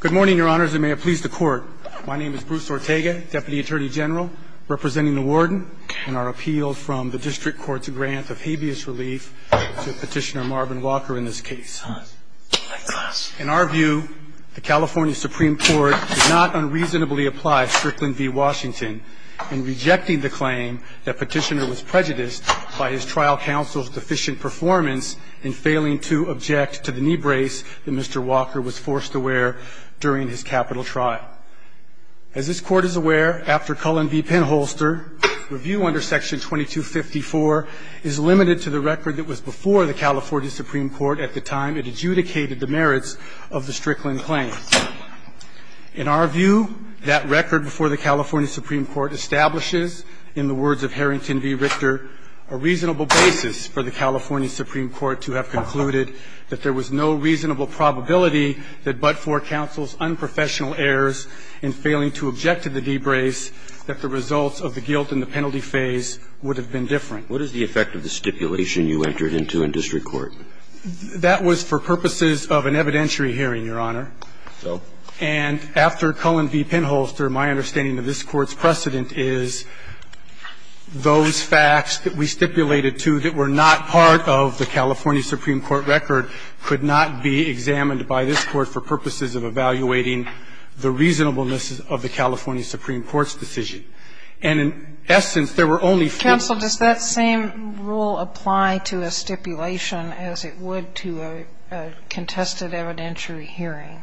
Good morning, Your Honors, and may it please the Court. My name is Bruce Ortega, Deputy Attorney General, representing the Warden, in our appeal from the District Court's grant of habeas relief to Petitioner Marvin Walker in this case. In our view, the California Supreme Court did not unreasonably apply Strickland v. Washington in rejecting the claim that Petitioner was prejudiced by his trial counsel's deficient performance in failing to object to the knee brace that Mr. Walker was forced to wear during his capital trial. As this Court is aware, after Cullen v. Penholster, review under Section 2254 is limited to the record that was before the California Supreme Court at the time it adjudicated the merits of the Strickland claim. In our view, that record before the California Supreme Court establishes, in the words of Harrington v. Richter, a reasonable basis for the California Supreme Court to have concluded that there was no reasonable probability that but for counsel's unprofessional errors in failing to object to the knee brace, that the results of the guilt and the penalty phase would have been different. What is the effect of the stipulation you entered into in District Court? That was for purposes of an evidentiary hearing, Your Honor. And after Cullen v. Penholster, my understanding of this Court's precedent is those facts that we stipulated to that were not part of the California Supreme Court record could not be examined by this Court for purposes of evaluating the reasonableness of the California Supreme Court's decision. And in essence, there were only four. Counsel, does that same rule apply to a stipulation as it would to a contested evidentiary hearing?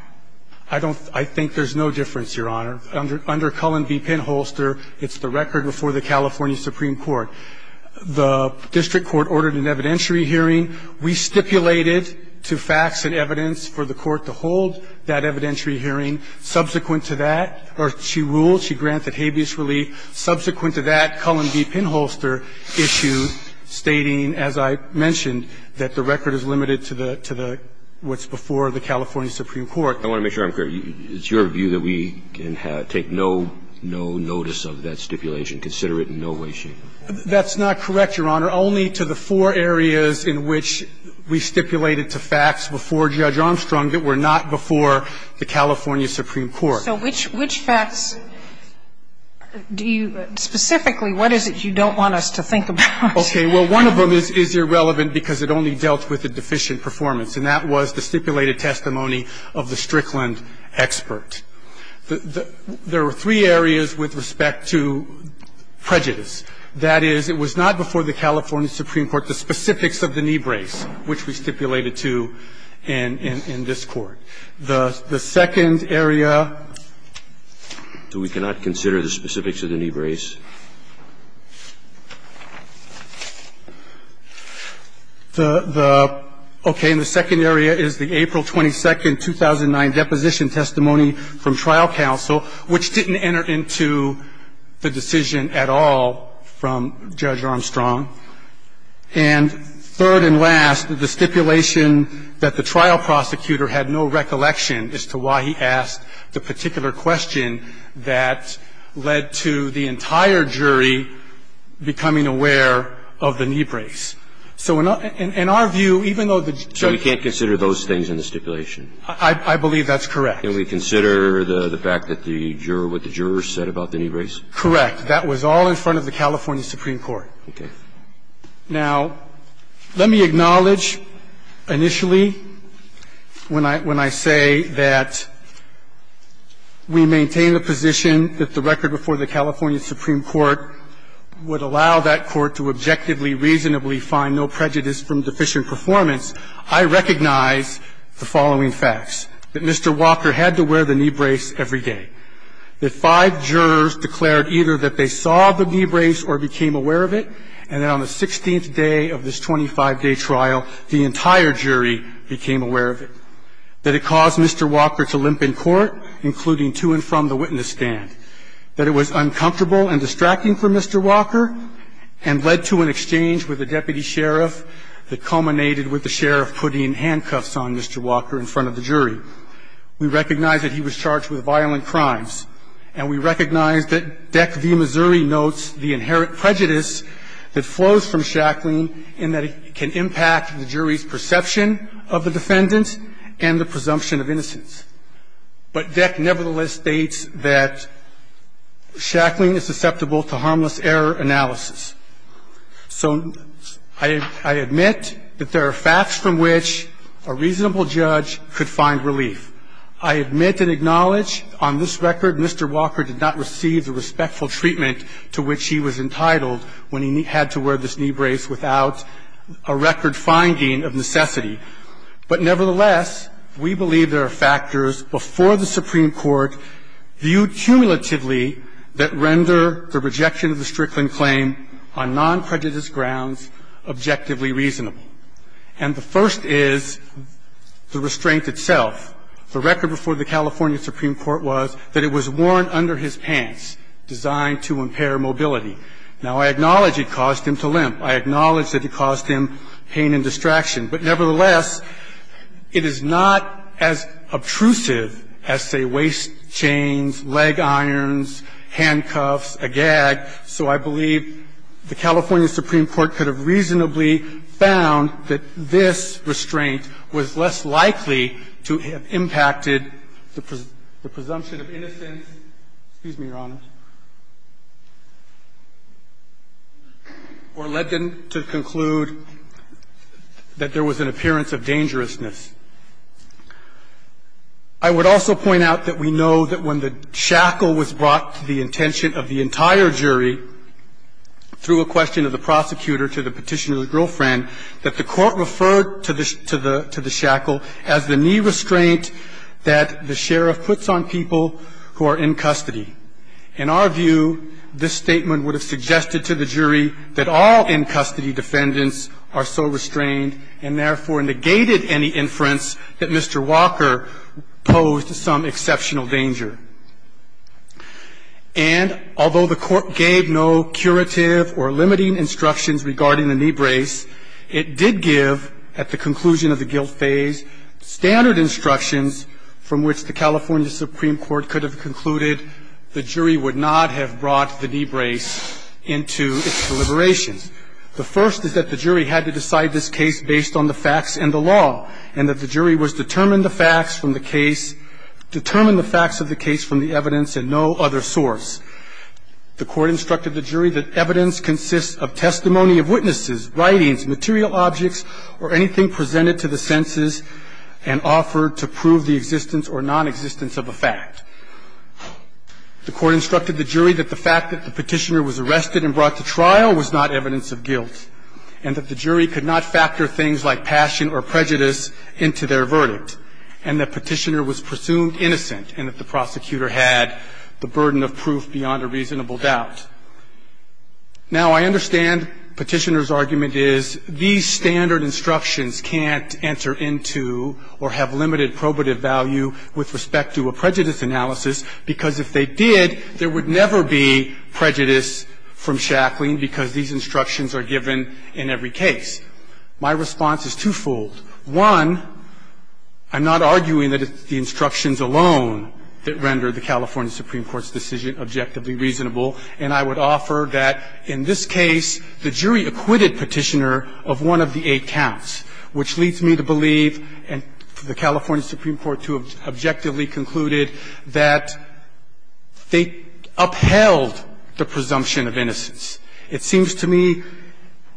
I don't think there's no difference, Your Honor. Under Cullen v. Penholster, it's the record before the California Supreme Court. The District Court ordered an evidentiary hearing. We stipulated to facts and evidence for the Court to hold that evidentiary hearing. Subsequent to that, or she ruled, she granted habeas relief. Subsequent to that, Cullen v. Penholster issued, stating, as I mentioned, that the record is limited to the what's before the California Supreme Court. I want to make sure I'm clear. It's your view that we can take no notice of that stipulation, consider it in no way, shape or form? That's not correct, Your Honor. Only to the four areas in which we stipulated to facts before Judge Armstrong that were not before the California Supreme Court. So which facts do you – specifically, what is it you don't want us to think about? Okay. Well, one of them is irrelevant because it only dealt with a deficient performance, and that was the stipulated testimony of the Strickland expert. There were three areas with respect to prejudice. That is, it was not before the California Supreme Court, the specifics of the knee brace, which we stipulated to in this Court. The second area – So we cannot consider the specifics of the knee brace? The – okay. And the second area is the April 22, 2009 deposition testimony from trial counsel, which didn't enter into the decision at all from Judge Armstrong. And third and last, the stipulation that the trial prosecutor had no recollection as to why he asked the particular question that led to the entire jury becoming aware of the knee brace. So in our view, even though the jury – So we can't consider those things in the stipulation? I believe that's correct. Can we consider the fact that the juror – what the jurors said about the knee brace? Correct. That was all in front of the California Supreme Court. Okay. Now, let me acknowledge initially when I – when I say that we maintain the position that the record before the California Supreme Court would allow that court to objectively, reasonably find no prejudice from deficient performance, I recognize the following facts, that Mr. Walker had to wear the knee brace every day, that five jurors declared either that they saw the knee brace or became aware of it, and that on the 16th day of this 25-day trial, the entire jury became aware of it, that it caused Mr. Walker to limp in court, including to and from the witness stand, that it was uncomfortable and distracting for Mr. Walker and led to an exchange with the deputy sheriff that culminated with the sheriff putting handcuffs on Mr. Walker in front of the jury. We recognize that he was charged with violent crimes, and we recognize that Deck v. Missouri notes the inherent prejudice that flows from Shacklin in that it can impact the jury's perception of the defendant and the presumption of innocence. But Deck nevertheless states that Shacklin is susceptible to harmless error analysis. So I admit that there are facts from which a reasonable judge could find relief. I admit and acknowledge on this record Mr. Walker did not receive the respectful treatment to which he was entitled when he had to wear this knee brace without a record finding of necessity. But nevertheless, we believe there are factors before the Supreme Court viewed cumulatively that render the rejection of the Strickland claim on nonprejudiced grounds objectively reasonable. And the first is the restraint itself. The record before the California Supreme Court was that it was worn under his pants, designed to impair mobility. Now, I acknowledge it caused him to limp. I acknowledge that it caused him pain and distraction. But nevertheless, it is not as obtrusive as, say, waist chains, leg irons, handcuffs, a gag, so I believe the California Supreme Court could have reasonably found that this restraint was less likely to have impacted the presumption of innocence or led them to conclude that there was an appearance of dangerousness. I would also point out that we know that when the shackle was brought to the intention of the entire jury through a question of the prosecutor to the petitioner's girlfriend, that the Court referred to the shackle as the knee restraint that the In our view, this statement would have suggested to the jury that all in custody defendants are so restrained and therefore negated any inference that Mr. Walker posed some exceptional danger. And although the Court gave no curative or limiting instructions regarding the knee brace, it did give, at the conclusion of the guilt phase, standard instructions from which the California Supreme Court could have concluded the jury would not have brought the knee brace into its deliberations. The first is that the jury had to decide this case based on the facts and the law, and that the jury was determined the facts of the case from the evidence and no other source. The Court instructed the jury that evidence consists of testimony of witnesses, writings, material objects, or anything presented to the senses and offered to prove the existence or nonexistence of a fact. The Court instructed the jury that the fact that the petitioner was arrested and brought to trial was not evidence of guilt, and that the jury could not factor things like passion or prejudice into their verdict, and that petitioner was presumed innocent, and that the prosecutor had the burden of proof beyond a reasonable doubt. Now, I understand Petitioner's argument is these standard instructions can't enter into or have limited probative value with respect to a prejudice analysis, because if they did, there would never be prejudice from shackling because these instructions are given in every case. My response is twofold. One, I'm not arguing that it's the instructions alone that render the California I'm arguing that Petitioner is not innocent. And I would offer that in this case, the jury acquitted Petitioner of one of the eight counts, which leads me to believe, and the California Supreme Court, too, objectively concluded that they upheld the presumption of innocence. It seems to me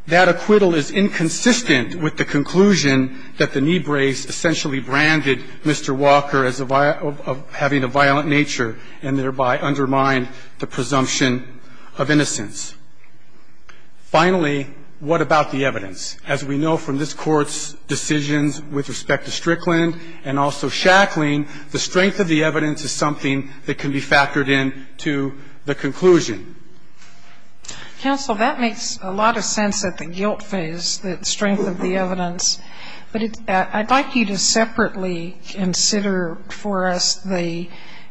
that acquittal is inconsistent with the conclusion that the knee brace essentially branded Mr. Walker as having a violent nature and thereby undermined the presumption of innocence. Finally, what about the evidence? As we know from this Court's decisions with respect to Strickland and also shackling, the strength of the evidence is something that can be factored into the conclusion. Counsel, that makes a lot of sense at the guilt phase, the strength of the evidence. But I'd like you to separately consider for us the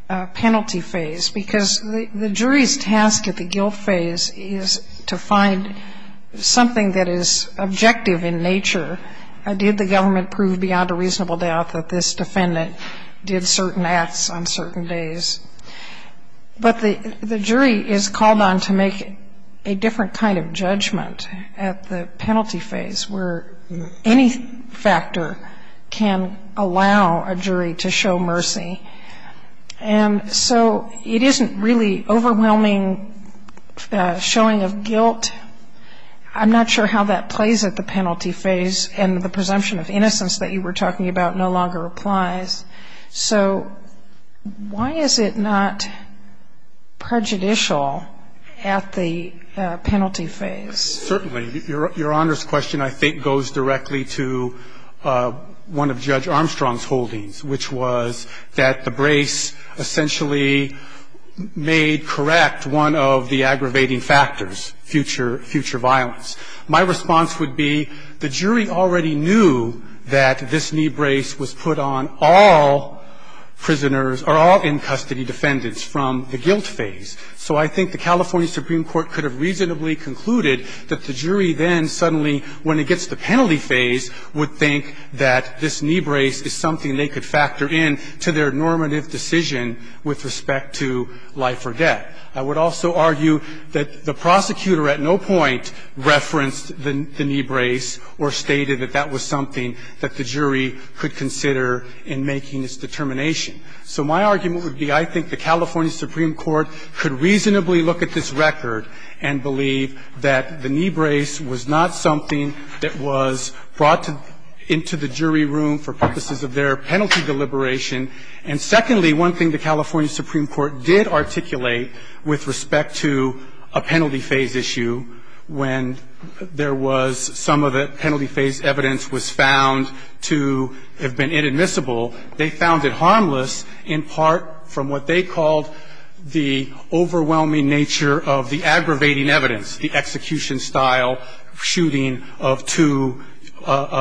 penalty phase, because the jury's task at the guilt phase is to find something that is objective in nature. Did the government prove beyond a reasonable doubt that this defendant did certain acts on certain days? But the jury is called on to make a different kind of judgment at the penalty phase, where any factor can allow a jury to show mercy. And so it isn't really overwhelming showing of guilt. I'm not sure how that plays at the penalty phase. And the presumption of innocence that you were talking about no longer applies. So why is it not prejudicial at the penalty phase? Certainly. Your Honor's question I think goes directly to one of Judge Armstrong's holdings, which was that the brace essentially made correct one of the aggravating factors, future violence. My response would be the jury already knew that this knee brace was put on all prisoners or all in custody defendants from the guilt phase. So I think the California Supreme Court could have reasonably concluded that the jury then suddenly, when it gets to the penalty phase, would think that this knee brace is something they could factor in to their normative decision with respect to life or death. I would also argue that the prosecutor at no point referenced the knee brace or stated that that was something that the jury could consider in making its determination. So my argument would be I think the California Supreme Court could reasonably look at this record and believe that the knee brace was not something that was brought into the jury room for purposes of their penalty deliberation. And secondly, one thing the California Supreme Court did articulate with respect to a penalty phase issue, when there was some of the penalty phase evidence was found to have been inadmissible, they found it harmless in part from what they called the overwhelming nature of the aggravating evidence, the execution-style shooting of two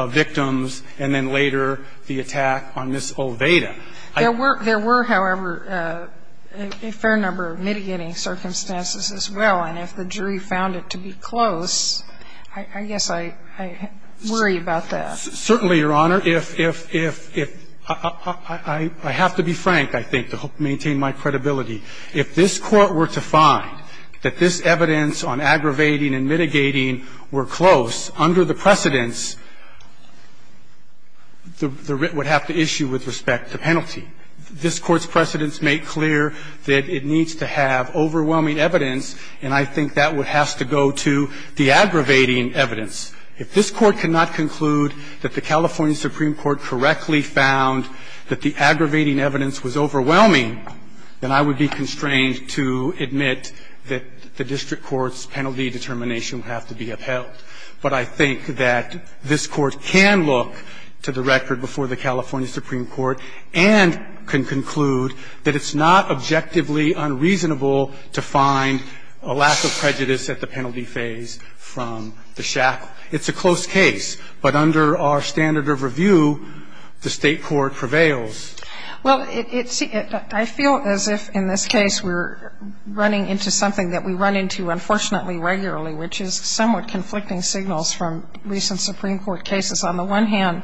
victims and then later the attack on Ms. Olveda. There were, however, a fair number of mitigating circumstances as well. And if the jury found it to be close, I guess I worry about that. Certainly, Your Honor. If ‑‑ I have to be frank, I think, to maintain my credibility. If this Court were to find that this evidence on aggravating and mitigating were close under the precedents, it would have to issue with respect to penalty. This Court's precedents make clear that it needs to have overwhelming evidence, and I think that would have to go to the aggravating evidence. If this Court could not conclude that the California Supreme Court correctly found that the aggravating evidence was overwhelming, then I would be constrained to admit that the district court's penalty determination would have to be upheld. But I think that this Court can look to the record before the California Supreme Court and can conclude that it's not objectively unreasonable to find a lack of prejudice at the penalty phase from the shackle. It's a close case, but under our standard of review, the State court prevails. Well, I feel as if in this case we're running into something that we run into, unfortunately, regularly, which is somewhat conflicting signals from recent Supreme Court cases. On the one hand,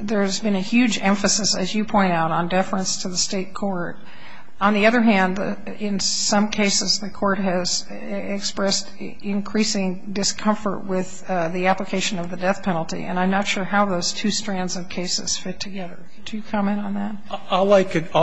there's been a huge emphasis, as you point out, on deference to the State court. On the other hand, in some cases, the court has expressed increasing discomfort with the application of the death penalty, and I'm not sure how those two strands of cases fit together. Do you comment on that? All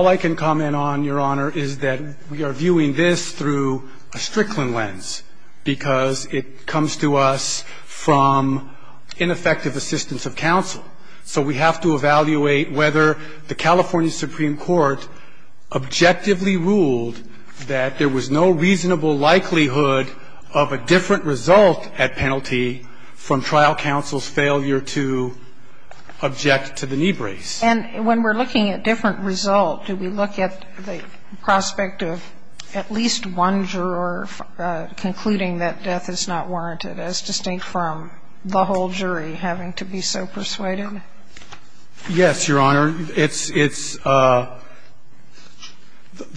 I can comment on, Your Honor, is that we are viewing this through a Strickland lens, because it comes to us from ineffective assistance of counsel. So we have to evaluate whether the California Supreme Court objectively ruled that there was no reasonable likelihood of a different result at penalty from trial counsel's failure to object to the knee brace. And when we're looking at different result, do we look at the prospect of at least one juror concluding that death is not warranted, as distinct from the whole jury having to be so persuaded? Yes, Your Honor. It's the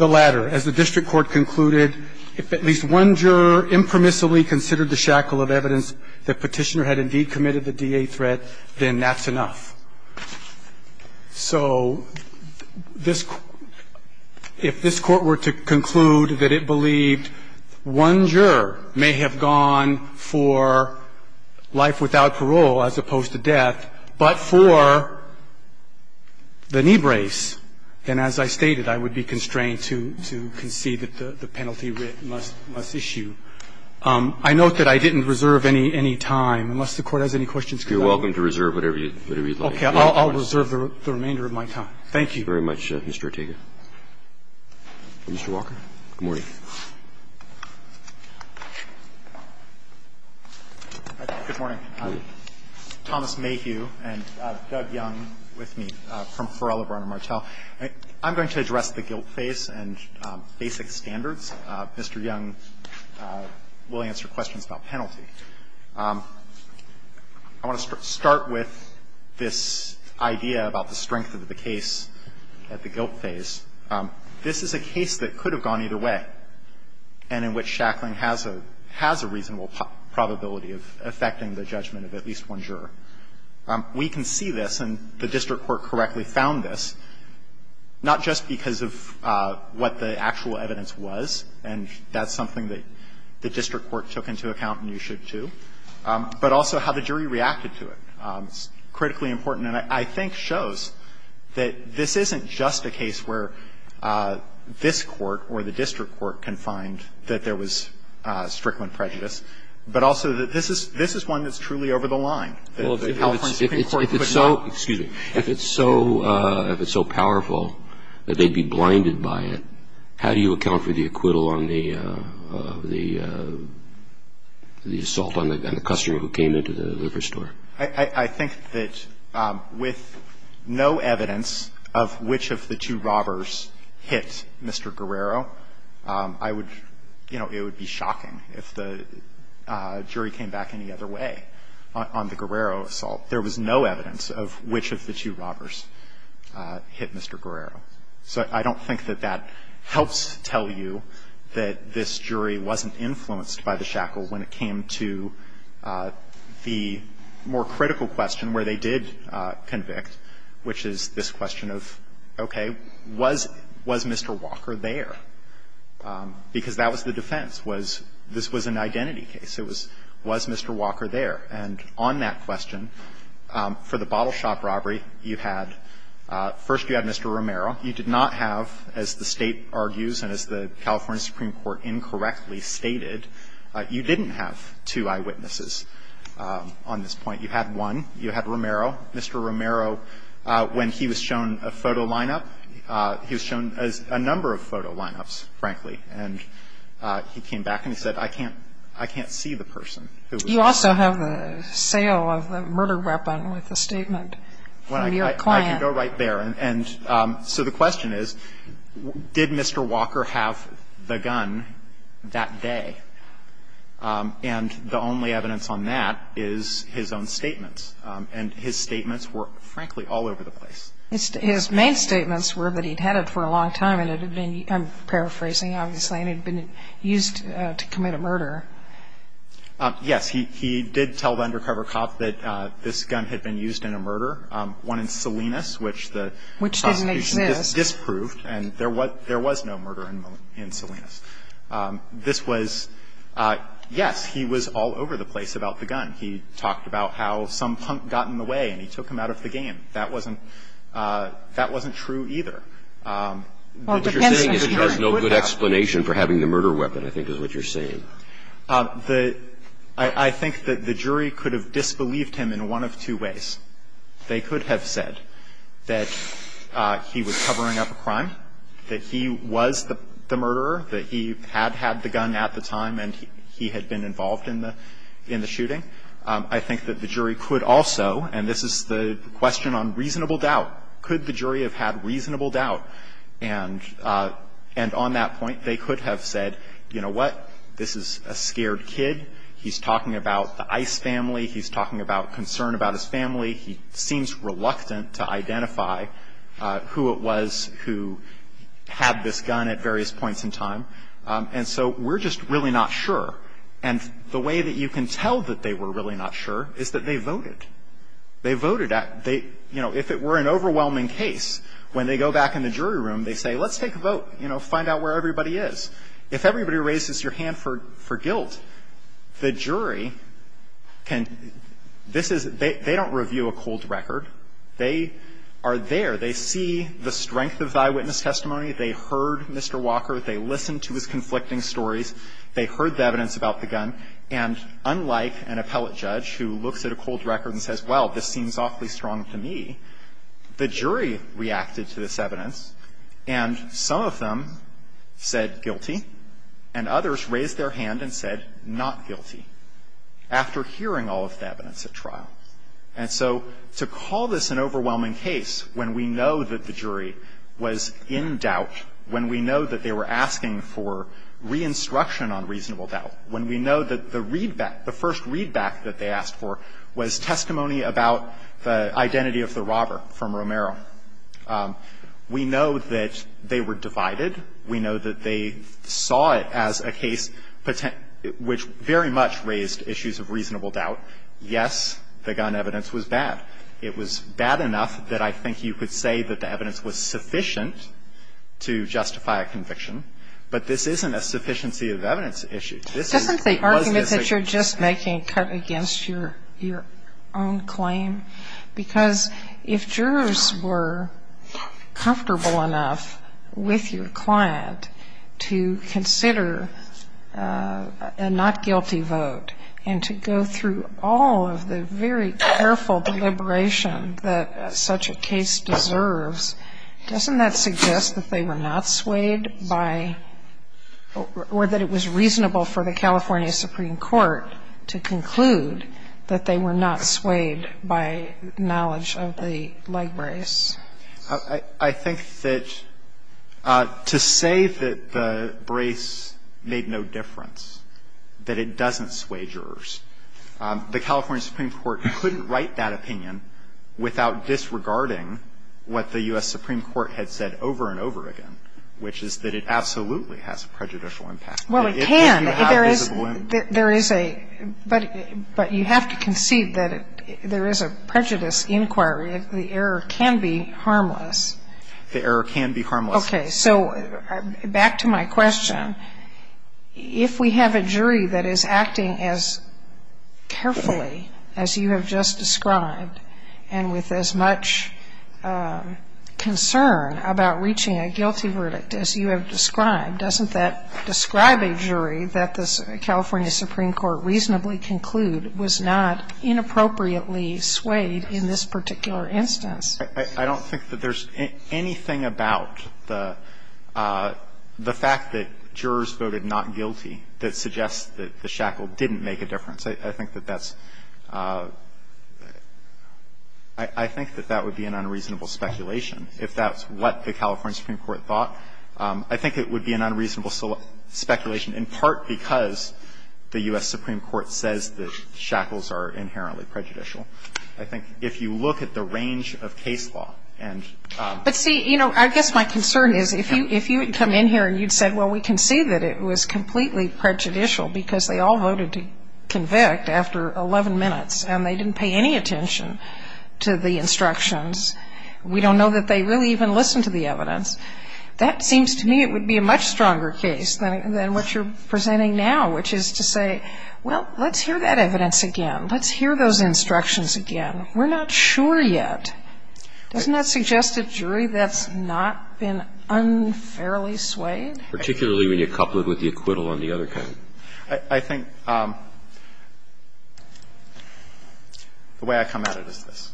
latter. As the district court concluded, if at least one juror impermissibly considered the shackle of evidence that Petitioner had indeed committed the DA threat, then that's enough. So this – if this Court were to conclude that it believed one juror may have gone for life without parole as opposed to death, but for the knee brace, then as I stated, I would be constrained to concede that the penalty writ must issue. I note that I didn't reserve any time, unless the Court has any questions. You're welcome to reserve whatever you'd like. Okay. I'll reserve the remainder of my time. Thank you. Thank you very much, Mr. Ortega. Mr. Walker. Good morning. Good morning. Thomas Mayhew and Doug Young with me from Forell, Lebron, and Martel. I'm going to address the guilt phase and basic standards. Mr. Young will answer questions about penalty. I want to start with this idea about the strength of the case at the guilt phase. This is a case that could have gone either way and in which Shackling has a reasonable probability of affecting the judgment of at least one juror. We can see this, and the district court correctly found this, not just because of what the actual evidence was, and that's something that the district court took into account and you should too, but also how the jury reacted to it. It's critically important and I think shows that this isn't just a case where this court or the district court can find that there was strickland prejudice, but also that this is one that's truly over the line. If it's so powerful that they'd be blinded by it, how do you account for the acquittal on the assault on the customer who came into the liquor store? I think that with no evidence of which of the two robbers hit Mr. Guerrero, I would, you know, it would be shocking if the jury came back any other way on the assault, there was no evidence of which of the two robbers hit Mr. Guerrero. So I don't think that that helps tell you that this jury wasn't influenced by the Shackle when it came to the more critical question where they did convict, which is this question of, okay, was Mr. Walker there, because that was the defense. This was an identity case. Was Mr. Walker there? And on that question, for the bottle shop robbery, you had, first you had Mr. Romero. You did not have, as the State argues and as the California Supreme Court incorrectly stated, you didn't have two eyewitnesses on this point. You had one. You had Romero. Mr. Romero, when he was shown a photo lineup, he was shown a number of photo lineups, frankly, and he came back and he said, I can't see the person who was there. You also have the sale of the murder weapon with the statement from your client. I can go right there. And so the question is, did Mr. Walker have the gun that day? And the only evidence on that is his own statements. And his statements were, frankly, all over the place. His main statements were that he'd had it for a long time and it had been, I'm paraphrasing obviously, and it had been used to commit a murder. Yes. He did tell the undercover cop that this gun had been used in a murder, one in Salinas, which the prosecution disproved. Which didn't exist. And there was no murder in Salinas. This was, yes, he was all over the place about the gun. He talked about how some punk got in the way and he took him out of the game. That wasn't true either. What you're saying is he has no good explanation for having the murder weapon, I think is what you're saying. I think that the jury could have disbelieved him in one of two ways. They could have said that he was covering up a crime, that he was the murderer, that he had had the gun at the time and he had been involved in the shooting. I think that the jury could also, and this is the question on reasonable doubt, could the jury have had reasonable doubt? And on that point, they could have said, you know what, this is a scared kid. He's talking about the Ice family. He's talking about concern about his family. He seems reluctant to identify who it was who had this gun at various points in time. And so we're just really not sure. And the way that you can tell that they were really not sure is that they voted. They voted. They, you know, if it were an overwhelming case, when they go back in the jury room, they say, let's take a vote, you know, find out where everybody is. If everybody raises your hand for guilt, the jury can, this is, they don't review a cold record. They are there. They see the strength of thy witness testimony. They heard Mr. Walker. They listened to his conflicting stories. They heard the evidence about the gun. And unlike an appellate judge who looks at a cold record and says, well, this seems awfully strong to me, the jury reacted to this evidence, and some of them said guilty, and others raised their hand and said not guilty after hearing all of the evidence at trial. And so to call this an overwhelming case when we know that the jury was in doubt, when we know that they were asking for re-instruction on reasonable doubt, when we know that the readback, the first readback that they asked for was testimony about the identity of the robber from Romero, we know that they were divided, we know that they saw it as a case which very much raised issues of reasonable doubt, yes, the gun evidence was bad. It was bad enough that I think you could say that the evidence was sufficient to justify a conviction. But this isn't a sufficiency of evidence issue. This is what is at stake. Sotomayor, this isn't the argument that you're just making a cut against your own claim, because if jurors were comfortable enough with your client to consider a not-guilty vote and to go through all of the very careful deliberation that such a case deserves, doesn't that suggest that they were not swayed by or that it was reasonable for the California Supreme Court to conclude that they were not swayed by knowledge of the leg brace? I think that to say that the brace made no difference, that it doesn't sway jurors, the California Supreme Court couldn't write that opinion without disregarding what the U.S. Supreme Court had said over and over again, which is that it absolutely has a prejudicial impact. Well, it can. If you have visible evidence. There is a – but you have to concede that there is a prejudice inquiry. The error can be harmless. The error can be harmless. Okay. So back to my question, if we have a jury that is acting as carefully as you have just described and with as much concern about reaching a guilty verdict as you have described, doesn't that describe a jury that the California Supreme Court reasonably conclude was not inappropriately swayed in this particular instance? I don't think that there's anything about the fact that jurors voted not guilty that suggests that the shackle didn't make a difference. I think that that's – I think that that would be an unreasonable speculation if that's what the California Supreme Court thought. I think it would be an unreasonable speculation in part because the U.S. Supreme Court says that shackles are inherently prejudicial. I think if you look at the range of case law and – But see, you know, I guess my concern is if you – if you had come in here and you'd said, well, we concede that it was completely prejudicial because they all voted to convict after 11 minutes and they didn't pay any attention to the instructions, we don't know that they really even listened to the evidence, that seems to me it would be a much stronger case than what you're presenting now, which is to say, well, let's hear that evidence again. Let's hear those instructions again. We're not sure yet. Doesn't that suggest a jury that's not been unfairly swayed? Particularly when you couple it with the acquittal on the other kind. I think the way I come at it is this.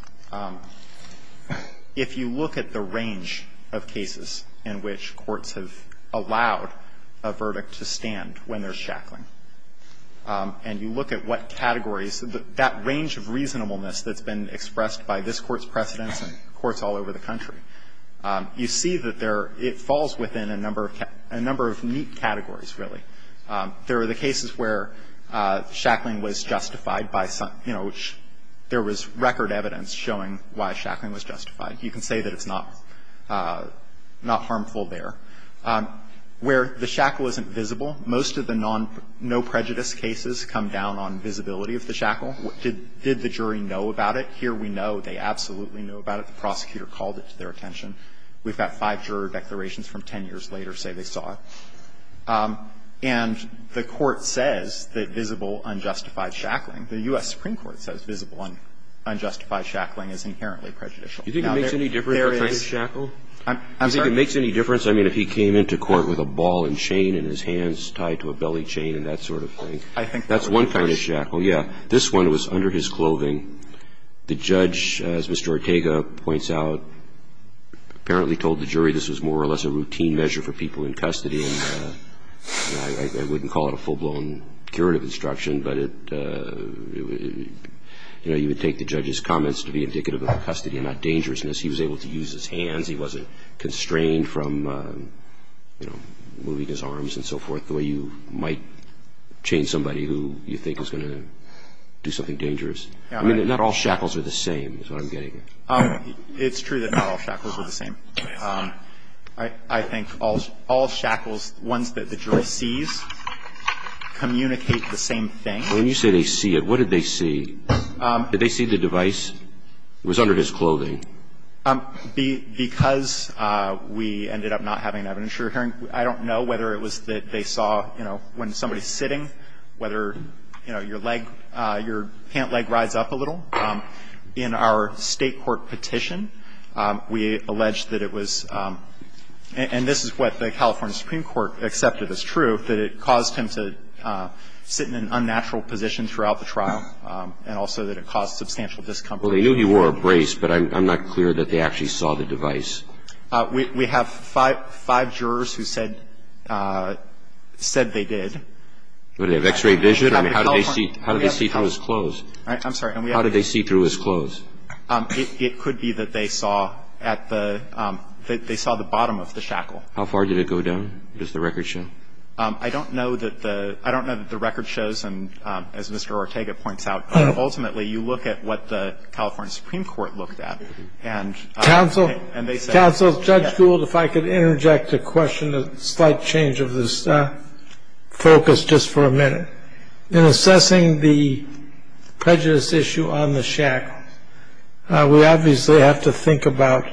If you look at the range of cases in which courts have allowed a verdict to stand when there's shackling, and you look at what categories, that range of reasonableness that's been expressed by this Court's precedents in courts all over the country, you see that there – it falls within a number of neat categories, really. There are the cases where shackling was justified by some – you know, there was record evidence showing why shackling was justified. You can say that it's not – not harmful there. Where the shackle isn't visible, most of the non-prejudice cases come down on visibility of the shackle. Did the jury know about it? Here we know they absolutely know about it. The prosecutor called it to their attention. We've got five juror declarations from 10 years later say they saw it. And the Court says that visible unjustified shackling, the U.S. Supreme Court says visible unjustified shackling is inherently prejudicial. Now, there is – Do you think it makes any difference if it's shackled? I'm sorry? Do you think it makes any difference? I mean, if he came into court with a ball and chain and his hands tied to a belly chain and that sort of thing. I think that's a good question. That's one kind of shackle, yeah. This one was under his clothing. The judge, as Mr. Ortega points out, apparently told the jury this was more or less a routine measure for people in custody, and I wouldn't call it a full-blown curative instruction, but it – you know, you would take the judge's comments to be indicative of custody and not dangerousness. He was able to use his hands. He wasn't constrained from, you know, moving his arms and so forth, the way you might chain somebody who you think is going to do something dangerous. I mean, not all shackles are the same is what I'm getting at. It's true that not all shackles are the same. I think all shackles, ones that the jury sees, communicate the same thing. When you say they see it, what did they see? Did they see the device? It was under his clothing. Because we ended up not having evidence, Your Honor, I don't know whether it was that they saw, you know, when somebody's sitting, whether, you know, your leg, your pant leg rides up a little. In our State court petition, we alleged that it was – and this is what the California Supreme Court accepted as true, that it caused him to sit in an unnatural position throughout the trial and also that it caused substantial discomfort. Well, they knew he wore a brace, but I'm not clear that they actually saw the device. We have five jurors who said they did. But they have x-ray vision? I mean, how did they see through his clothes? I'm sorry. How did they see through his clothes? It could be that they saw at the – that they saw the bottom of the shackle. How far did it go down? Does the record show? I don't know that the – I don't know that the record shows, and as Mr. Ortega points out, ultimately, you look at what the California Supreme Court looked at, and – Counsel, Judge Gould, if I could interject a question, a slight change of this focus just for a minute. In assessing the prejudice issue on the shackles, we obviously have to think about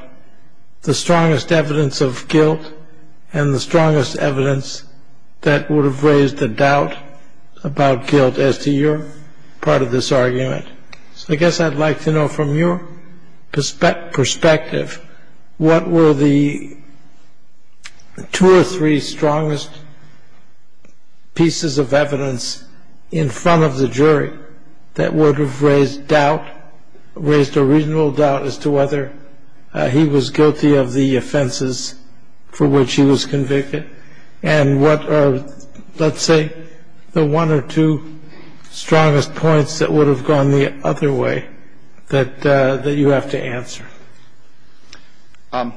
the strongest evidence of guilt and the strongest evidence that would have raised the doubt about guilt as to your part of this argument. So I guess I'd like to know from your perspective, what were the two or three strongest pieces of evidence in front of the jury that would have raised doubt, raised a reasonable doubt as to whether he was guilty of the offenses for which he was convicted? And what are, let's say, the one or two strongest points that would have gone the other way that you have to answer? I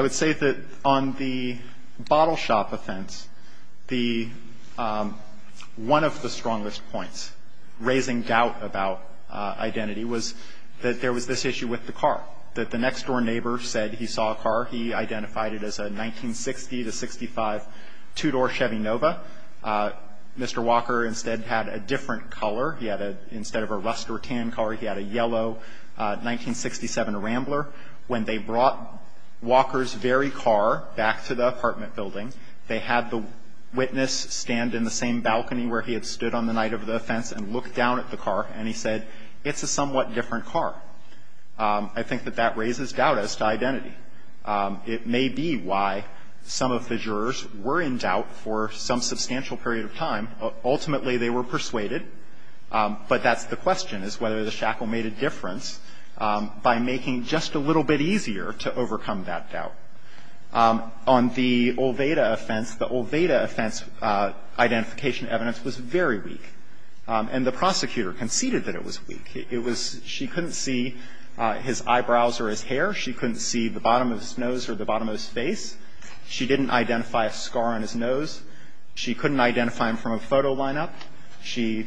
would say that on the bottle shop offense, the – one of the strongest points raising doubt about identity was that there was this issue with the car, that the car was a 1960 to 65 two-door Chevy Nova. Mr. Walker instead had a different color. He had a – instead of a rust or tan color, he had a yellow 1967 Rambler. When they brought Walker's very car back to the apartment building, they had the witness stand in the same balcony where he had stood on the night of the offense and look down at the car, and he said, it's a somewhat different car. I think that that raises doubt as to identity. It may be why some of the jurors were in doubt for some substantial period of time. Ultimately, they were persuaded, but that's the question, is whether the shackle made a difference by making just a little bit easier to overcome that doubt. On the Olveda offense, the Olveda offense identification evidence was very weak, and the prosecutor conceded that it was weak. It was – she couldn't see his eyebrows or his hair. She couldn't see the bottom of his nose or the bottom of his face. She didn't identify a scar on his nose. She couldn't identify him from a photo lineup. She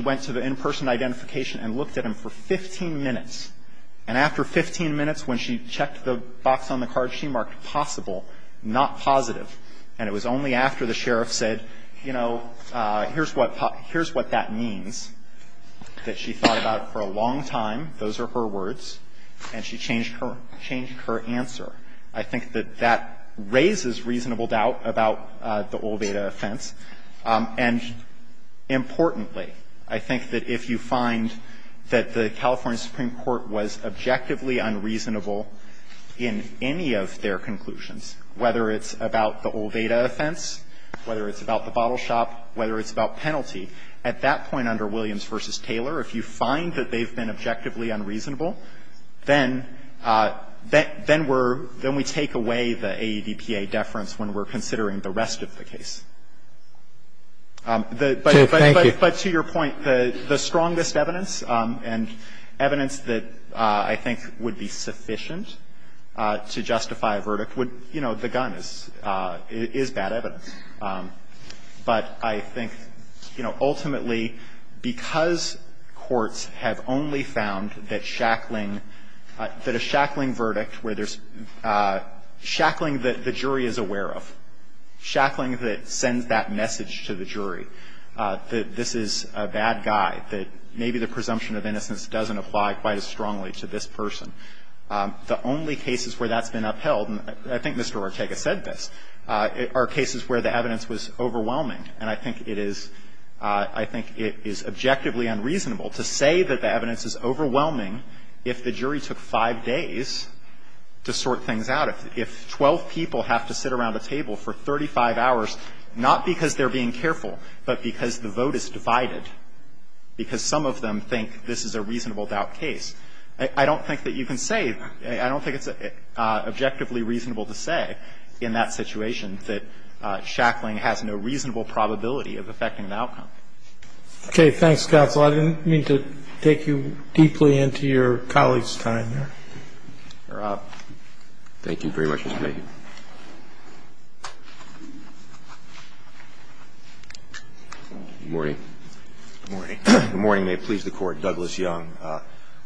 went to the in-person identification and looked at him for 15 minutes. And after 15 minutes, when she checked the box on the card, she marked possible, not positive. And it was only after the sheriff said, you know, here's what – here's what that means, that she thought about it for a long time. Those are her words. And she changed her – changed her answer. I think that that raises reasonable doubt about the Olveda offense. And importantly, I think that if you find that the California Supreme Court was objectively unreasonable in any of their conclusions, whether it's about the Olveda offense, whether it's about the bottle shop, whether it's about penalty, at that point under the law, if you find that the California Supreme Court was objectively unreasonable, then – then we're – then we take away the AEDPA deference when we're considering the rest of the case. But to your point, the strongest evidence and evidence that I think would be sufficient to justify a verdict would – you know, the gun is bad evidence. But I think, you know, ultimately, because courts have only found that shackling – that a shackling verdict where there's shackling that the jury is aware of, shackling that sends that message to the jury that this is a bad guy, that maybe the presumption of innocence doesn't apply quite as strongly to this person, the only cases where that's been upheld, and I think Mr. Ortega said this, are cases where the evidence was overwhelming, and I think it is – I think it is objectively unreasonable to say that the evidence is overwhelming if the jury took 5 days to sort things out, if 12 people have to sit around a table for 35 hours, not because they're being careful, but because the vote is divided, because some of them think this is a reasonable doubt case. I don't think that you can say – I don't think it's objectively reasonable to say in that situation that shackling has no reasonable probability of affecting an outcome. Okay. Thanks, counsel. I didn't mean to take you deeply into your colleague's time there. Thank you very much, Mr. Mayhew. Good morning. Good morning. Good morning. May it please the Court. Douglas Young,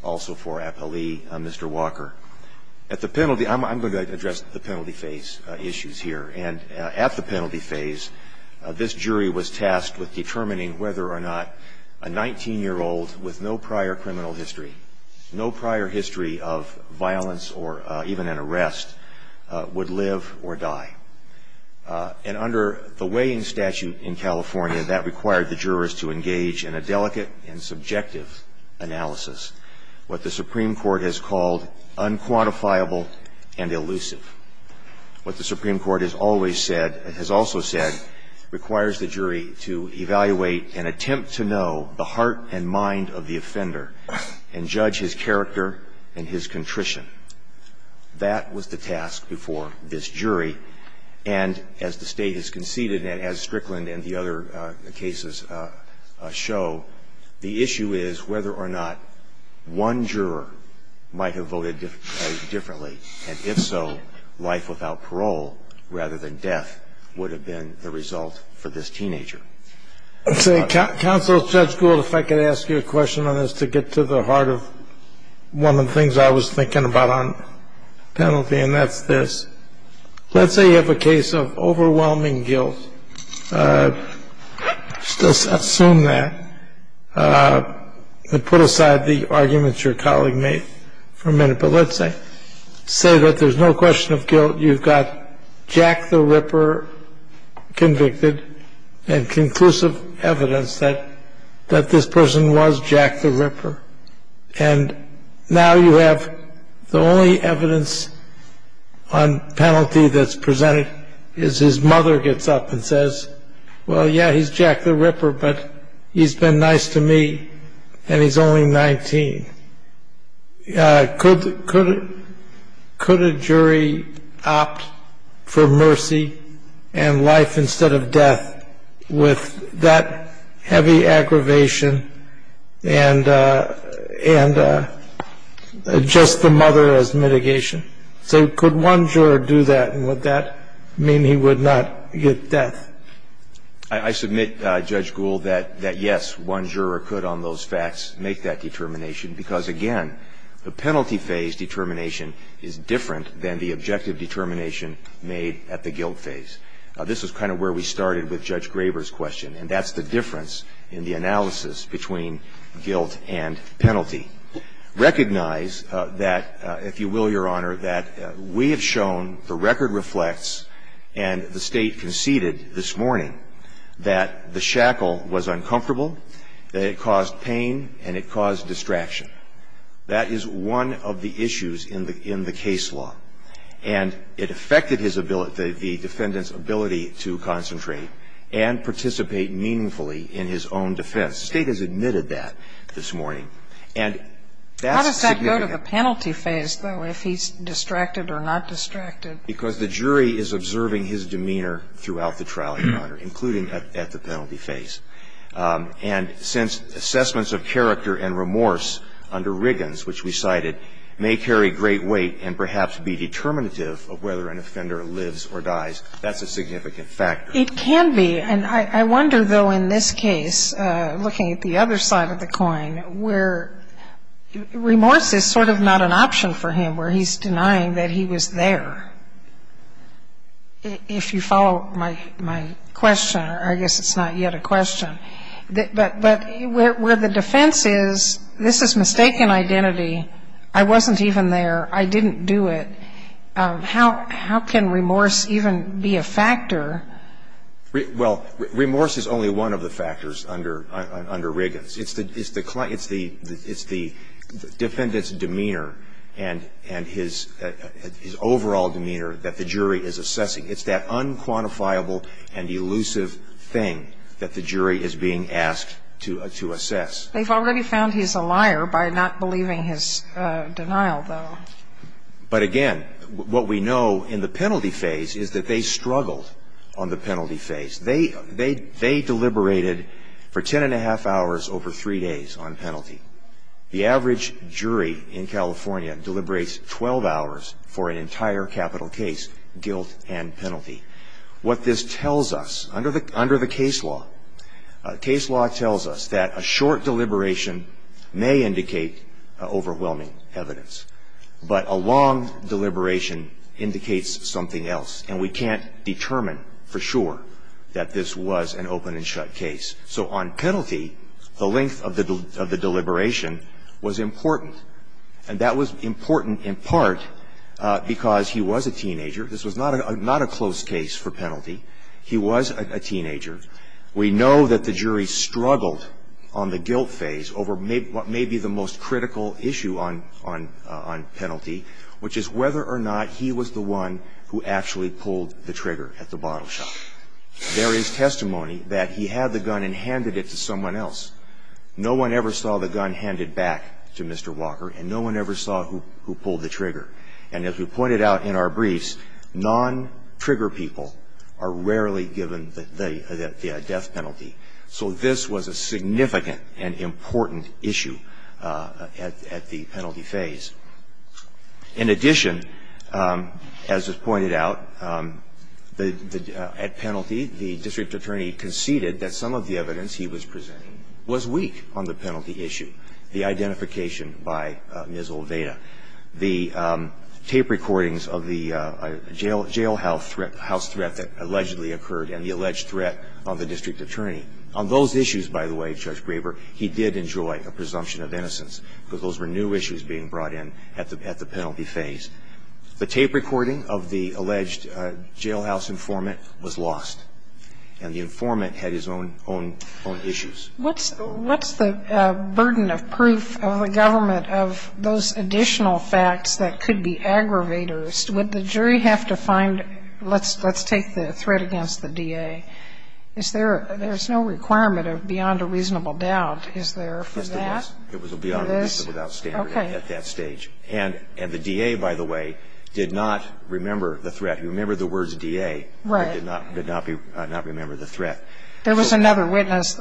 also for Apolli, Mr. Walker. At the penalty – I'm going to address the penalty phase issues here, and at the penalty phase, this jury was tasked with determining whether or not a 19-year-old with no prior criminal history, no prior history of violence or even an arrest, would live or die. And under the weighing statute in California, that required the jurors to engage in a delicate and subjective analysis, what the Supreme Court has called unquantifiable and elusive. What the Supreme Court has always said – has also said requires the jury to evaluate and attempt to know the heart and mind of the offender and judge his character and his contrition. That was the task before this jury, and as the State has conceded, and as Strickland and the other cases show, the issue is whether or not one juror might have voted differently, and if so, life without parole rather than death would have been the result for this teenager. Counsel, Judge Gould, if I could ask you a question on this to get to the heart of one of the things I was thinking about on penalty, and that's this. Let's say you have a case of overwhelming guilt, just assume that, and put aside the arguments your colleague made for a minute, but let's say that there's no question of guilt, you've got Jack the Ripper convicted and conclusive evidence that this person was Jack the Ripper, and now you have the only evidence on penalty that's presented is his mother gets up and says, well, yeah, he's Jack the Ripper, but he's been nice to me and he's only 19. Could a jury opt for mercy and life instead of death with that heavy aggravation and just the mother as mitigation? So could one juror do that, and would that mean he would not get death? I submit, Judge Gould, that yes, one juror could on those facts make that determination because, again, the penalty phase determination is different than the objective determination made at the guilt phase. This is kind of where we started with Judge Graber's question, and that's the difference in the analysis between guilt and penalty. Recognize that, if you will, Your Honor, that we have shown, the record reflects, and the State conceded this morning, that the shackle was uncomfortable, that it caused pain, and it caused distraction. That is one of the issues in the case law, and it affected his ability, the defendant's ability to concentrate and participate meaningfully in his own defense. The State has admitted that this morning, and that's significant. How does that go to the penalty phase, though, if he's distracted or not distracted? Because the jury is observing his demeanor throughout the trial, Your Honor, including at the penalty phase. And since assessments of character and remorse under Riggins, which we cited, may carry great weight and perhaps be determinative of whether an offender lives or dies, that's a significant factor. It can be. And I wonder, though, in this case, looking at the other side of the coin, where remorse is sort of not an option for him, where he's denying that he was there. If you follow my question, I guess it's not yet a question. But where the defense is, this is mistaken identity, I wasn't even there, I didn't do it, how can remorse even be a factor? Well, remorse is only one of the factors under Riggins. It's the defendant's demeanor and his overall demeanor that the jury is assessing. It's that unquantifiable and elusive thing that the jury is being asked to assess. They've already found he's a liar by not believing his denial, though. But again, what we know in the penalty phase is that they struggled on the penalty phase. They deliberated for 10 and a half hours over three days on penalty. The average jury in California deliberates 12 hours for an entire capital case, guilt and penalty. What this tells us, under the case law, case law tells us that a short deliberation may indicate overwhelming evidence. But a long deliberation indicates something else, and we can't determine for sure that this was an open and shut case. So on penalty, the length of the deliberation was important. And that was important in part because he was a teenager. This was not a close case for penalty. He was a teenager. We know that the jury struggled on the guilt phase over what may be the most critical issue on penalty, which is whether or not he was the one who actually pulled the trigger at the bottle shot. There is testimony that he had the gun and handed it to someone else. No one ever saw the gun handed back to Mr. Walker, and no one ever saw who pulled the trigger. And as we pointed out in our briefs, non-trigger people are rarely given the death penalty. So this was a significant and important issue at the penalty phase. In addition, as was pointed out, at penalty, the district attorney conceded that some of the evidence he was presenting was weak on the penalty issue, the identification by Ms. Olveda. The tape recordings of the jailhouse threat, the house threat that allegedly occurred, and the alleged threat on the district attorney, on those issues, by the way, Judge Graber, he did enjoy a presumption of innocence, because those were new to him at the penalty phase. The tape recording of the alleged jailhouse informant was lost, and the informant had his own issues. What's the burden of proof of the government of those additional facts that could be aggravators? Would the jury have to find, let's take the threat against the DA. There's no requirement of beyond a reasonable doubt, is there, for that? It was a beyond a reasonable doubt standard at that stage. And the DA, by the way, did not remember the threat. He remembered the words DA, but did not remember the threat. There was another witness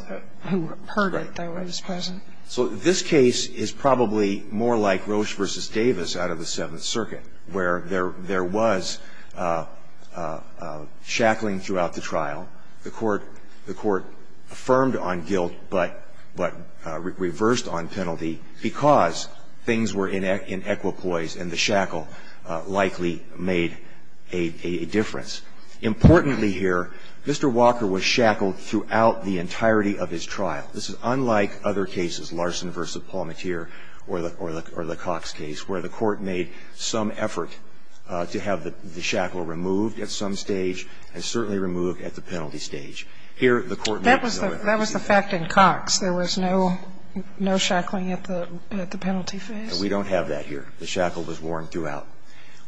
who heard it that was present. So this case is probably more like Roche versus Davis out of the Seventh Circuit, where there was shackling throughout the trial. The court affirmed on guilt, but reversed on penalty, because things were in equipoise, and the shackle likely made a difference. Importantly here, Mr. Walker was shackled throughout the entirety of his trial. This is unlike other cases, Larson versus Palmateer or the Cox case, where the court made some effort to have the shackle removed at some stage, and certainly removed at the penalty stage. Here, the court made no effort. That was the fact in Cox. There was no shackling at the penalty phase? We don't have that here. The shackle was worn throughout.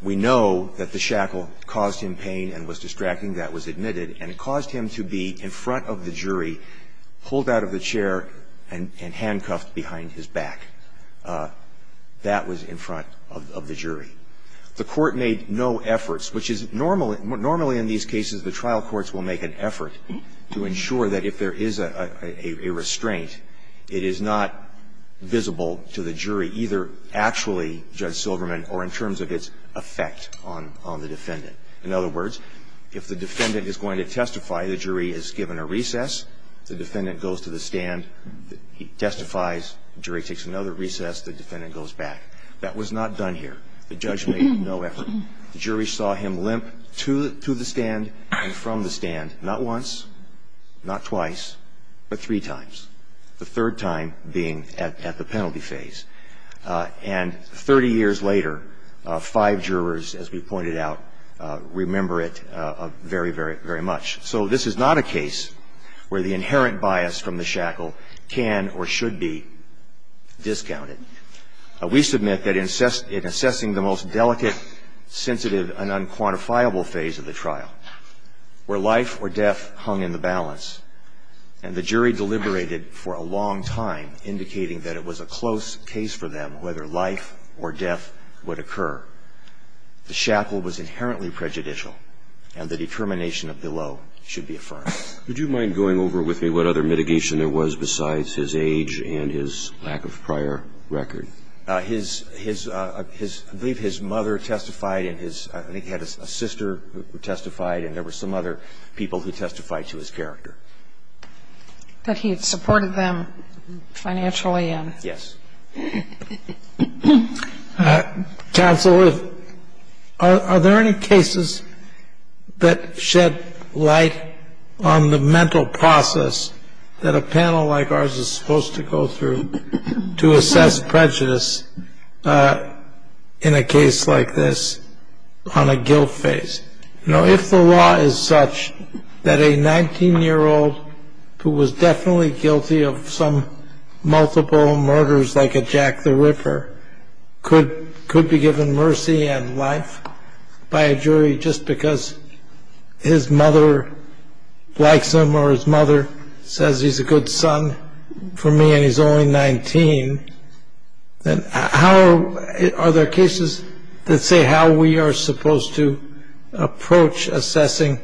We know that the shackle caused him pain and was distracting. That was admitted. And it caused him to be in front of the jury, pulled out of the chair, and handcuffed behind his back. That was in front of the jury. The court made no efforts, which is normally ñ normally in these cases, the trial courts will make an effort to ensure that if there is a restraint, it is not visible to the jury either actually, Judge Silverman, or in terms of its effect on the defendant. In other words, if the defendant is going to testify, the jury is given a recess, the defendant goes to the stand, he testifies, the jury takes another recess, the defendant goes back. That was not done here. The judge made no effort. The jury saw him limp to the stand and from the stand, not once, not twice, but three times, the third time being at the penalty phase. And 30 years later, five jurors, as we pointed out, remember it very, very much. So this is not a case where the inherent bias from the shackle can or should be discounted. We submit that in assessing the most delicate, sensitive, and unquantifiable phase of the trial, where life or death hung in the balance, and the jury deliberated for a long time, indicating that it was a close case for them whether life or death would occur, the shackle was inherently prejudicial, and the determination of below should be affirmed. Would you mind going over with me what other mitigation there was besides his age and his lack of prior record? I believe his mother testified, and I think he had a sister who testified, and there were some other people who testified to his character. That he had supported them financially in. Yes. Counsel, are there any cases that shed light on the mental process that a panel like ours is supposed to go through to assess prejudice in a case like this on a guilt phase? Now, if the law is such that a 19-year-old who was definitely guilty of some multiple murders, like a Jack the Ripper, could be given mercy and life by a jury just because his mother likes him or his mother says he's a good son for me and he's only 19, then how are there cases that say how we are supposed to approach assessing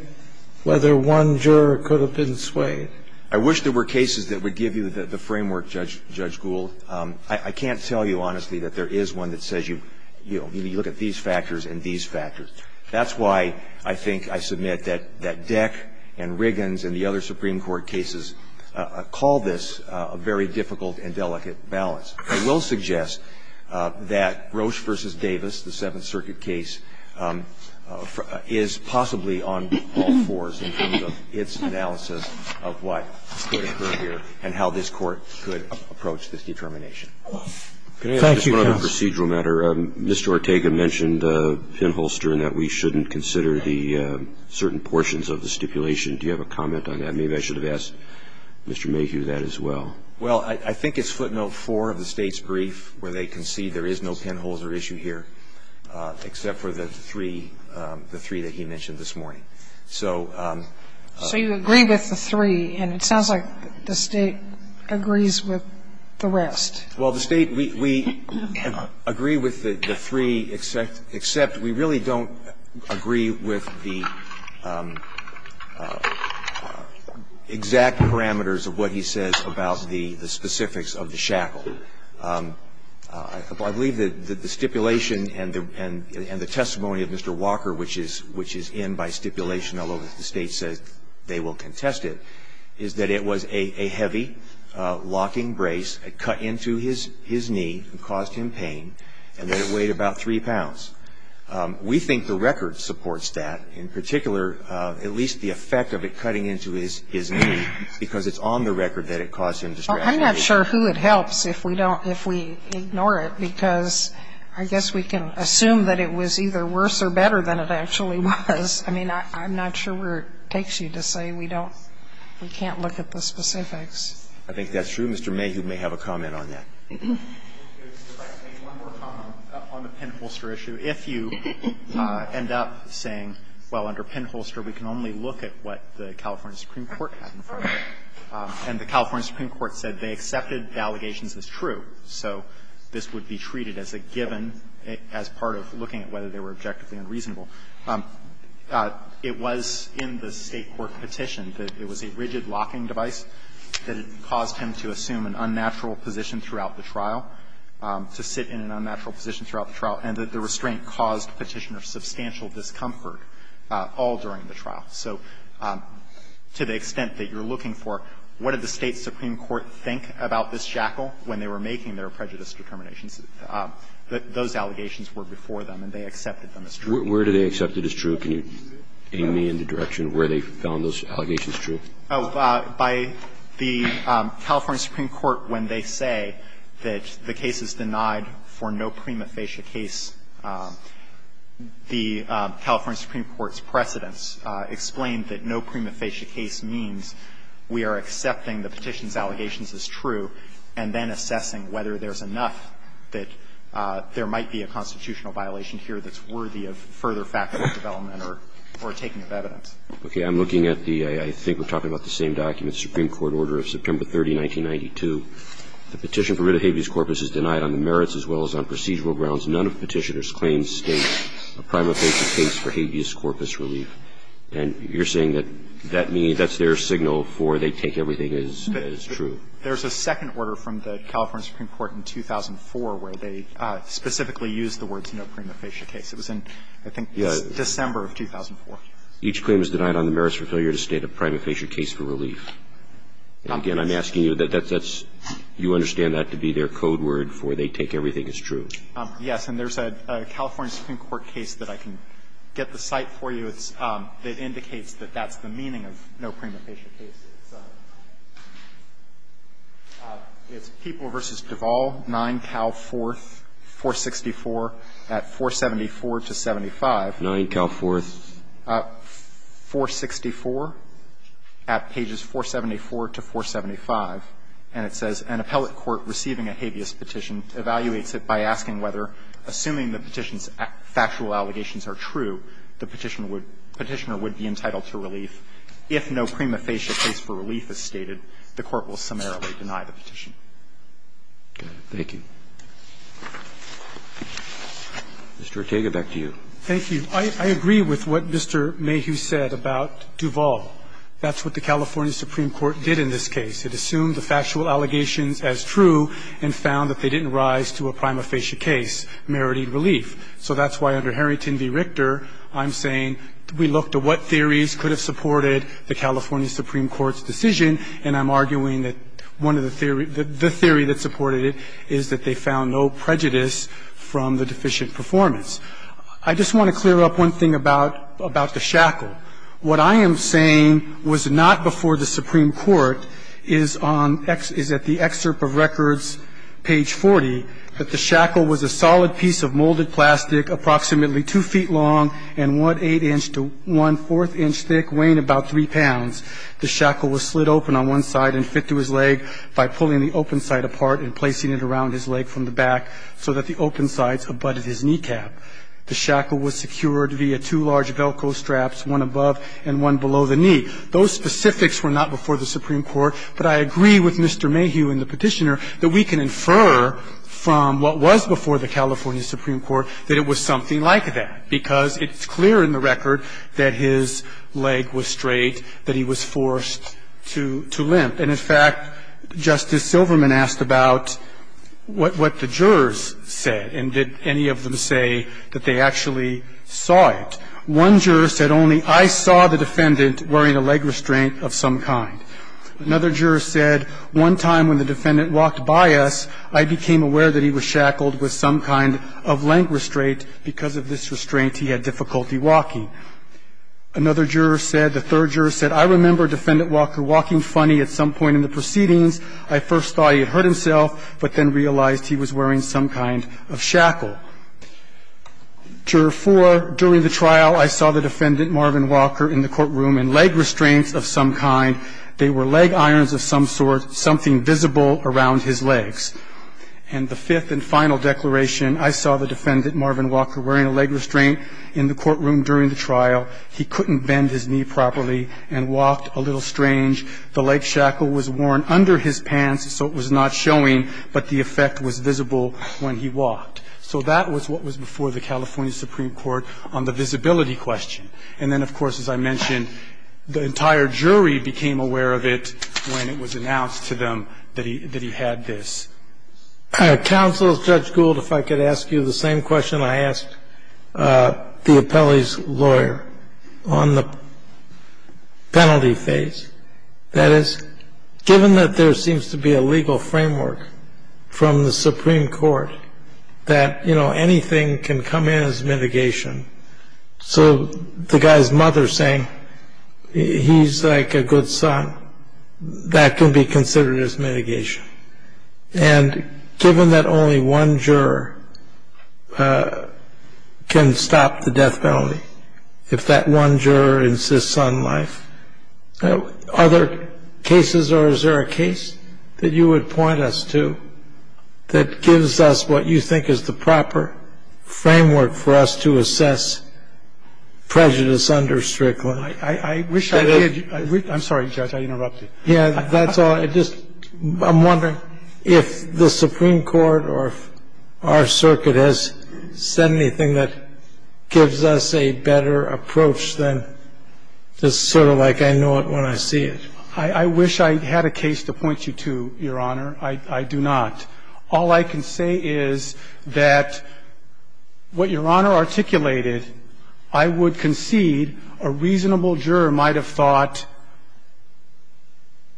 whether one juror could have been swayed? I wish there were cases that would give you the framework, Judge Gould. I can't tell you, honestly, that there is one that says you look at these factors and these factors. That's why I think I submit that Deck and Riggins and the other Supreme Court cases call this a very difficult and delicate balance. I will suggest that Roche v. Davis, the Seventh Circuit case, is possibly on all fours in terms of its analysis of what could occur here and how this Court Thank you, counsel. Procedural matter. Mr. Ortega mentioned the pinholster and that we shouldn't consider the certain portions of the stipulation. Do you have a comment on that? Maybe I should have asked Mr. Mayhew that as well. Well, I think it's footnote 4 of the State's brief where they concede there is no pinholes or issue here except for the three that he mentioned this morning. So you agree with the three, and it sounds like the State agrees with the rest. Well, the State, we agree with the three, except we really don't agree with the exact parameters of what he says about the specifics of the shackle. I believe that the stipulation and the testimony of Mr. Walker, which is in by stipulation although the State says they will contest it, is that it was a heavy locking brace, it cut into his knee and caused him pain, and that it weighed about 3 pounds. We think the record supports that, in particular, at least the effect of it cutting into his knee, because it's on the record that it caused him distraction. I'm not sure who it helps if we don't, if we ignore it, because I guess we can assume that it was either worse or better than it actually was. I mean, I'm not sure where it takes you to say we don't, we can't look at the specifics. I think that's true. Mr. Mayhew may have a comment on that. Mayhew, if I could make one more comment on the pinholster issue. If you end up saying, well, under pinholster we can only look at what the California Supreme Court had in front of it, and the California Supreme Court said they accepted the allegations as true, so this would be treated as a given as part of looking at whether they were objectively unreasonable. It was in the State court petition that it was a rigid locking device that caused him to assume an unnatural position throughout the trial, to sit in an unnatural position throughout the trial, and that the restraint caused Petitioner substantial discomfort all during the trial. So to the extent that you're looking for what did the State Supreme Court think about this shackle when they were making their prejudice determinations? Those allegations were before them, and they accepted them as true. Where do they accept it as true? Can you aim me in the direction of where they found those allegations true? By the California Supreme Court, when they say that the case is denied for no prima facie case, the California Supreme Court's precedents explain that no prima facie case means we are accepting the petition's allegations as true and then assessing whether there's enough that there might be a constitutional violation here that's worthy of further factual development or taking of evidence. Okay. I'm looking at the – I think we're talking about the same document, the Supreme Court order of September 30, 1992. The petition for rid of habeas corpus is denied on the merits as well as on procedural grounds. None of Petitioner's claims state a prima facie case for habeas corpus relief. And you're saying that that means that's their signal for they take everything as true. There's a second order from the California Supreme Court in 2004 where they specifically used the words no prima facie case. It was in, I think, December of 2004. Each claim is denied on the merits for failure to state a prima facie case for relief. Again, I'm asking you that that's – you understand that to be their code word for they take everything as true. Yes. And there's a California Supreme Court case that I can get the site for you. It indicates that that's the meaning of no prima facie case. It's People v. Duvall, 9 Cal 4th, 464, at 474 to 75. 9 Cal 4th. 464 at pages 474 to 475. And it says, An appellate court receiving a habeas petition evaluates it by asking whether, assuming the petition's factual allegations are true, the Petitioner would be entitled to relief. If no prima facie case for relief is stated, the Court will summarily deny the petition. Mr. Ortega, back to you. Thank you. I agree with what Mr. Mayhew said about Duvall. That's what the California Supreme Court did in this case. It assumed the factual allegations as true and found that they didn't rise to a prima facie case merited relief. So that's why, under Harrington v. Richter, I'm saying we looked at what theories could have supported the California Supreme Court's decision, and I'm arguing that one of the theory the theory that supported it is that they found no prejudice from the deficient performance. I just want to clear up one thing about the shackle. What I am saying was not before the Supreme Court is on the excerpt of records page 40 that the shackle was a solid piece of molded plastic approximately 2 feet long and 1 1⁄8 inch to 1⁄4 inch thick, weighing about 3 pounds. The shackle was slid open on one side and fit to his leg by pulling the open side apart and placing it around his leg from the back so that the open sides abutted his kneecap. The shackle was secured via two large Velcro straps, one above and one below the knee. Those specifics were not before the Supreme Court, but I agree with Mr. Mayhew and the Petitioner, that we can infer from what was before the California Supreme Court that it was something like that, because it's clear in the record that his leg was straight, that he was forced to limp. And, in fact, Justice Silverman asked about what the jurors said, and did any of them say that they actually saw it. One juror said only, I saw the defendant wearing a leg restraint of some kind. Another juror said, one time when the defendant walked by us, I became aware that he was shackled with some kind of leg restraint, because of this restraint he had difficulty walking. Another juror said, the third juror said, I remember Defendant Walker walking funny at some point in the proceedings. I first thought he had hurt himself, but then realized he was wearing some kind of shackle. Juror four, during the trial, I saw the defendant, Marvin Walker, in the courtroom in leg restraints of some kind. They were leg irons of some sort, something visible around his legs. And the fifth and final declaration, I saw the defendant, Marvin Walker, wearing a leg restraint in the courtroom during the trial. He couldn't bend his knee properly and walked a little strange. The leg shackle was worn under his pants, so it was not showing, but the effect was visible when he walked. So that was what was before the California Supreme Court on the visibility question. And then, of course, as I mentioned, the entire jury became aware of it when it was announced to them that he had this. Counsel, Judge Gould, if I could ask you the same question I asked the appellee's lawyer on the penalty phase. That is, given that there seems to be a legal framework from the Supreme Court that anything can come in as mitigation. So the guy's mother saying, he's like a good son, that can be considered as mitigation. And given that only one juror can stop the death penalty, if that one juror insists on life, are there cases or is there a case that you would point us to that gives us what you think is the proper framework for us to assess prejudice under Strickland? I wish I did. I'm sorry, Judge, I interrupted. Yeah, that's all. I just, I'm wondering if the Supreme Court or our circuit has said anything that gives us a better approach than just sort of like I know it when I see it. I wish I had a case to point you to, Your Honor. I do not. All I can say is that what Your Honor articulated, I would concede a reasonable juror might have thought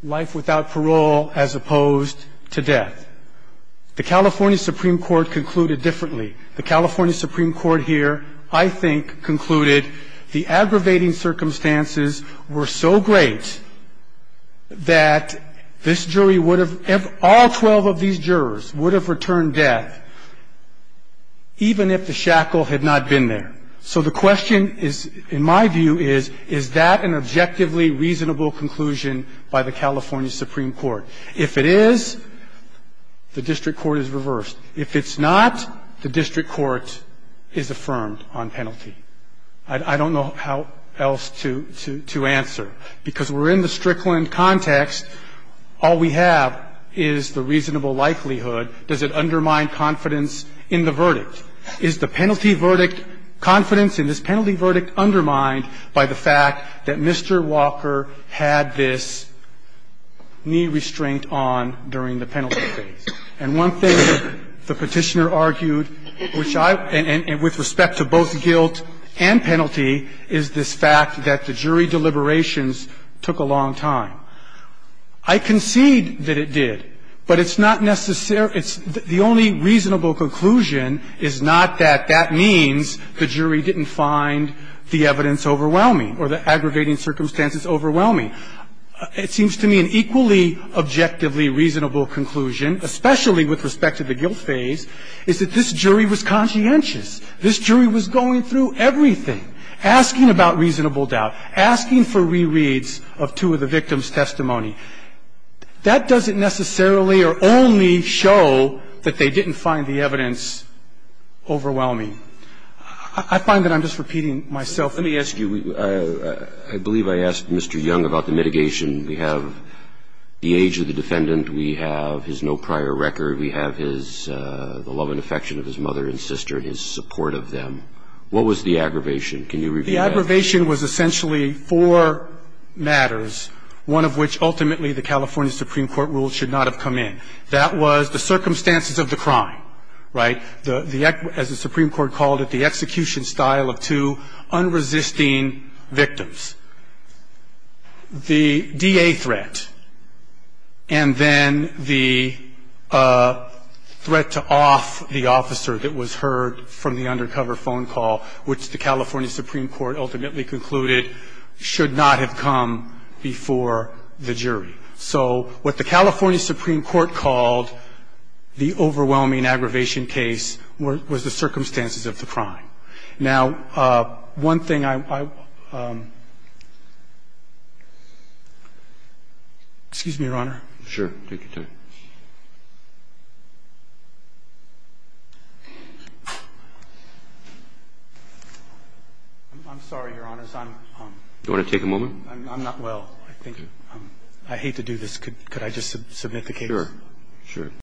life without parole as opposed to death. The California Supreme Court concluded differently. The California Supreme Court here, I think, concluded the aggravating circumstances were so great that this jury would have, all 12 of these jurors would have returned death even if the shackle had not been there. So the question is, in my view, is, is that an objectively reasonable conclusion by the California Supreme Court? If it is, the district court is reversed. If it's not, the district court is affirmed on penalty. I don't know how else to answer, because we're in the Strickland context. All we have is the reasonable likelihood. Does it undermine confidence in the verdict? Is the penalty verdict, confidence in this penalty verdict undermined by the fact that Mr. Walker had this knee restraint on during the penalty phase? And one thing the Petitioner argued, which I, and with respect to both guilt and guilt, I concede that it did, but it's not necessarily the only reasonable conclusion is not that that means the jury didn't find the evidence overwhelming or the aggravating circumstances overwhelming. It seems to me an equally objectively reasonable conclusion, especially with respect to the guilt phase, is that this jury was conscientious. This jury was going through everything, asking about reasonable doubt, asking for reasonable doubt, asking for reasonable doubt, asking for reasonable doubt. That doesn't necessarily or only show that they didn't find the evidence overwhelming. I find that I'm just repeating myself. Let me ask you, I believe I asked Mr. Young about the mitigation. We have the age of the defendant, we have his no prior record, we have his, the love and affection of his mother and sister and his support of them. What was the aggravation? Can you repeat that? The aggravation was essentially four matters, one of which ultimately the California Supreme Court ruled should not have come in. That was the circumstances of the crime, right? The, as the Supreme Court called it, the execution style of two unresisting victims, the DA threat, and then the threat to off the officer that was heard from the undercover phone call, which the California Supreme Court ultimately concluded should not have come before the jury. So what the California Supreme Court called the overwhelming aggravation case was the circumstances of the crime. Now, one thing I, excuse me, Your Honor. Sure. Take your time. I'm sorry, Your Honor, I'm, I'm, I'm, I'm not well, I think, I hate to do this. Could, could I just submit the case? Sure, sure.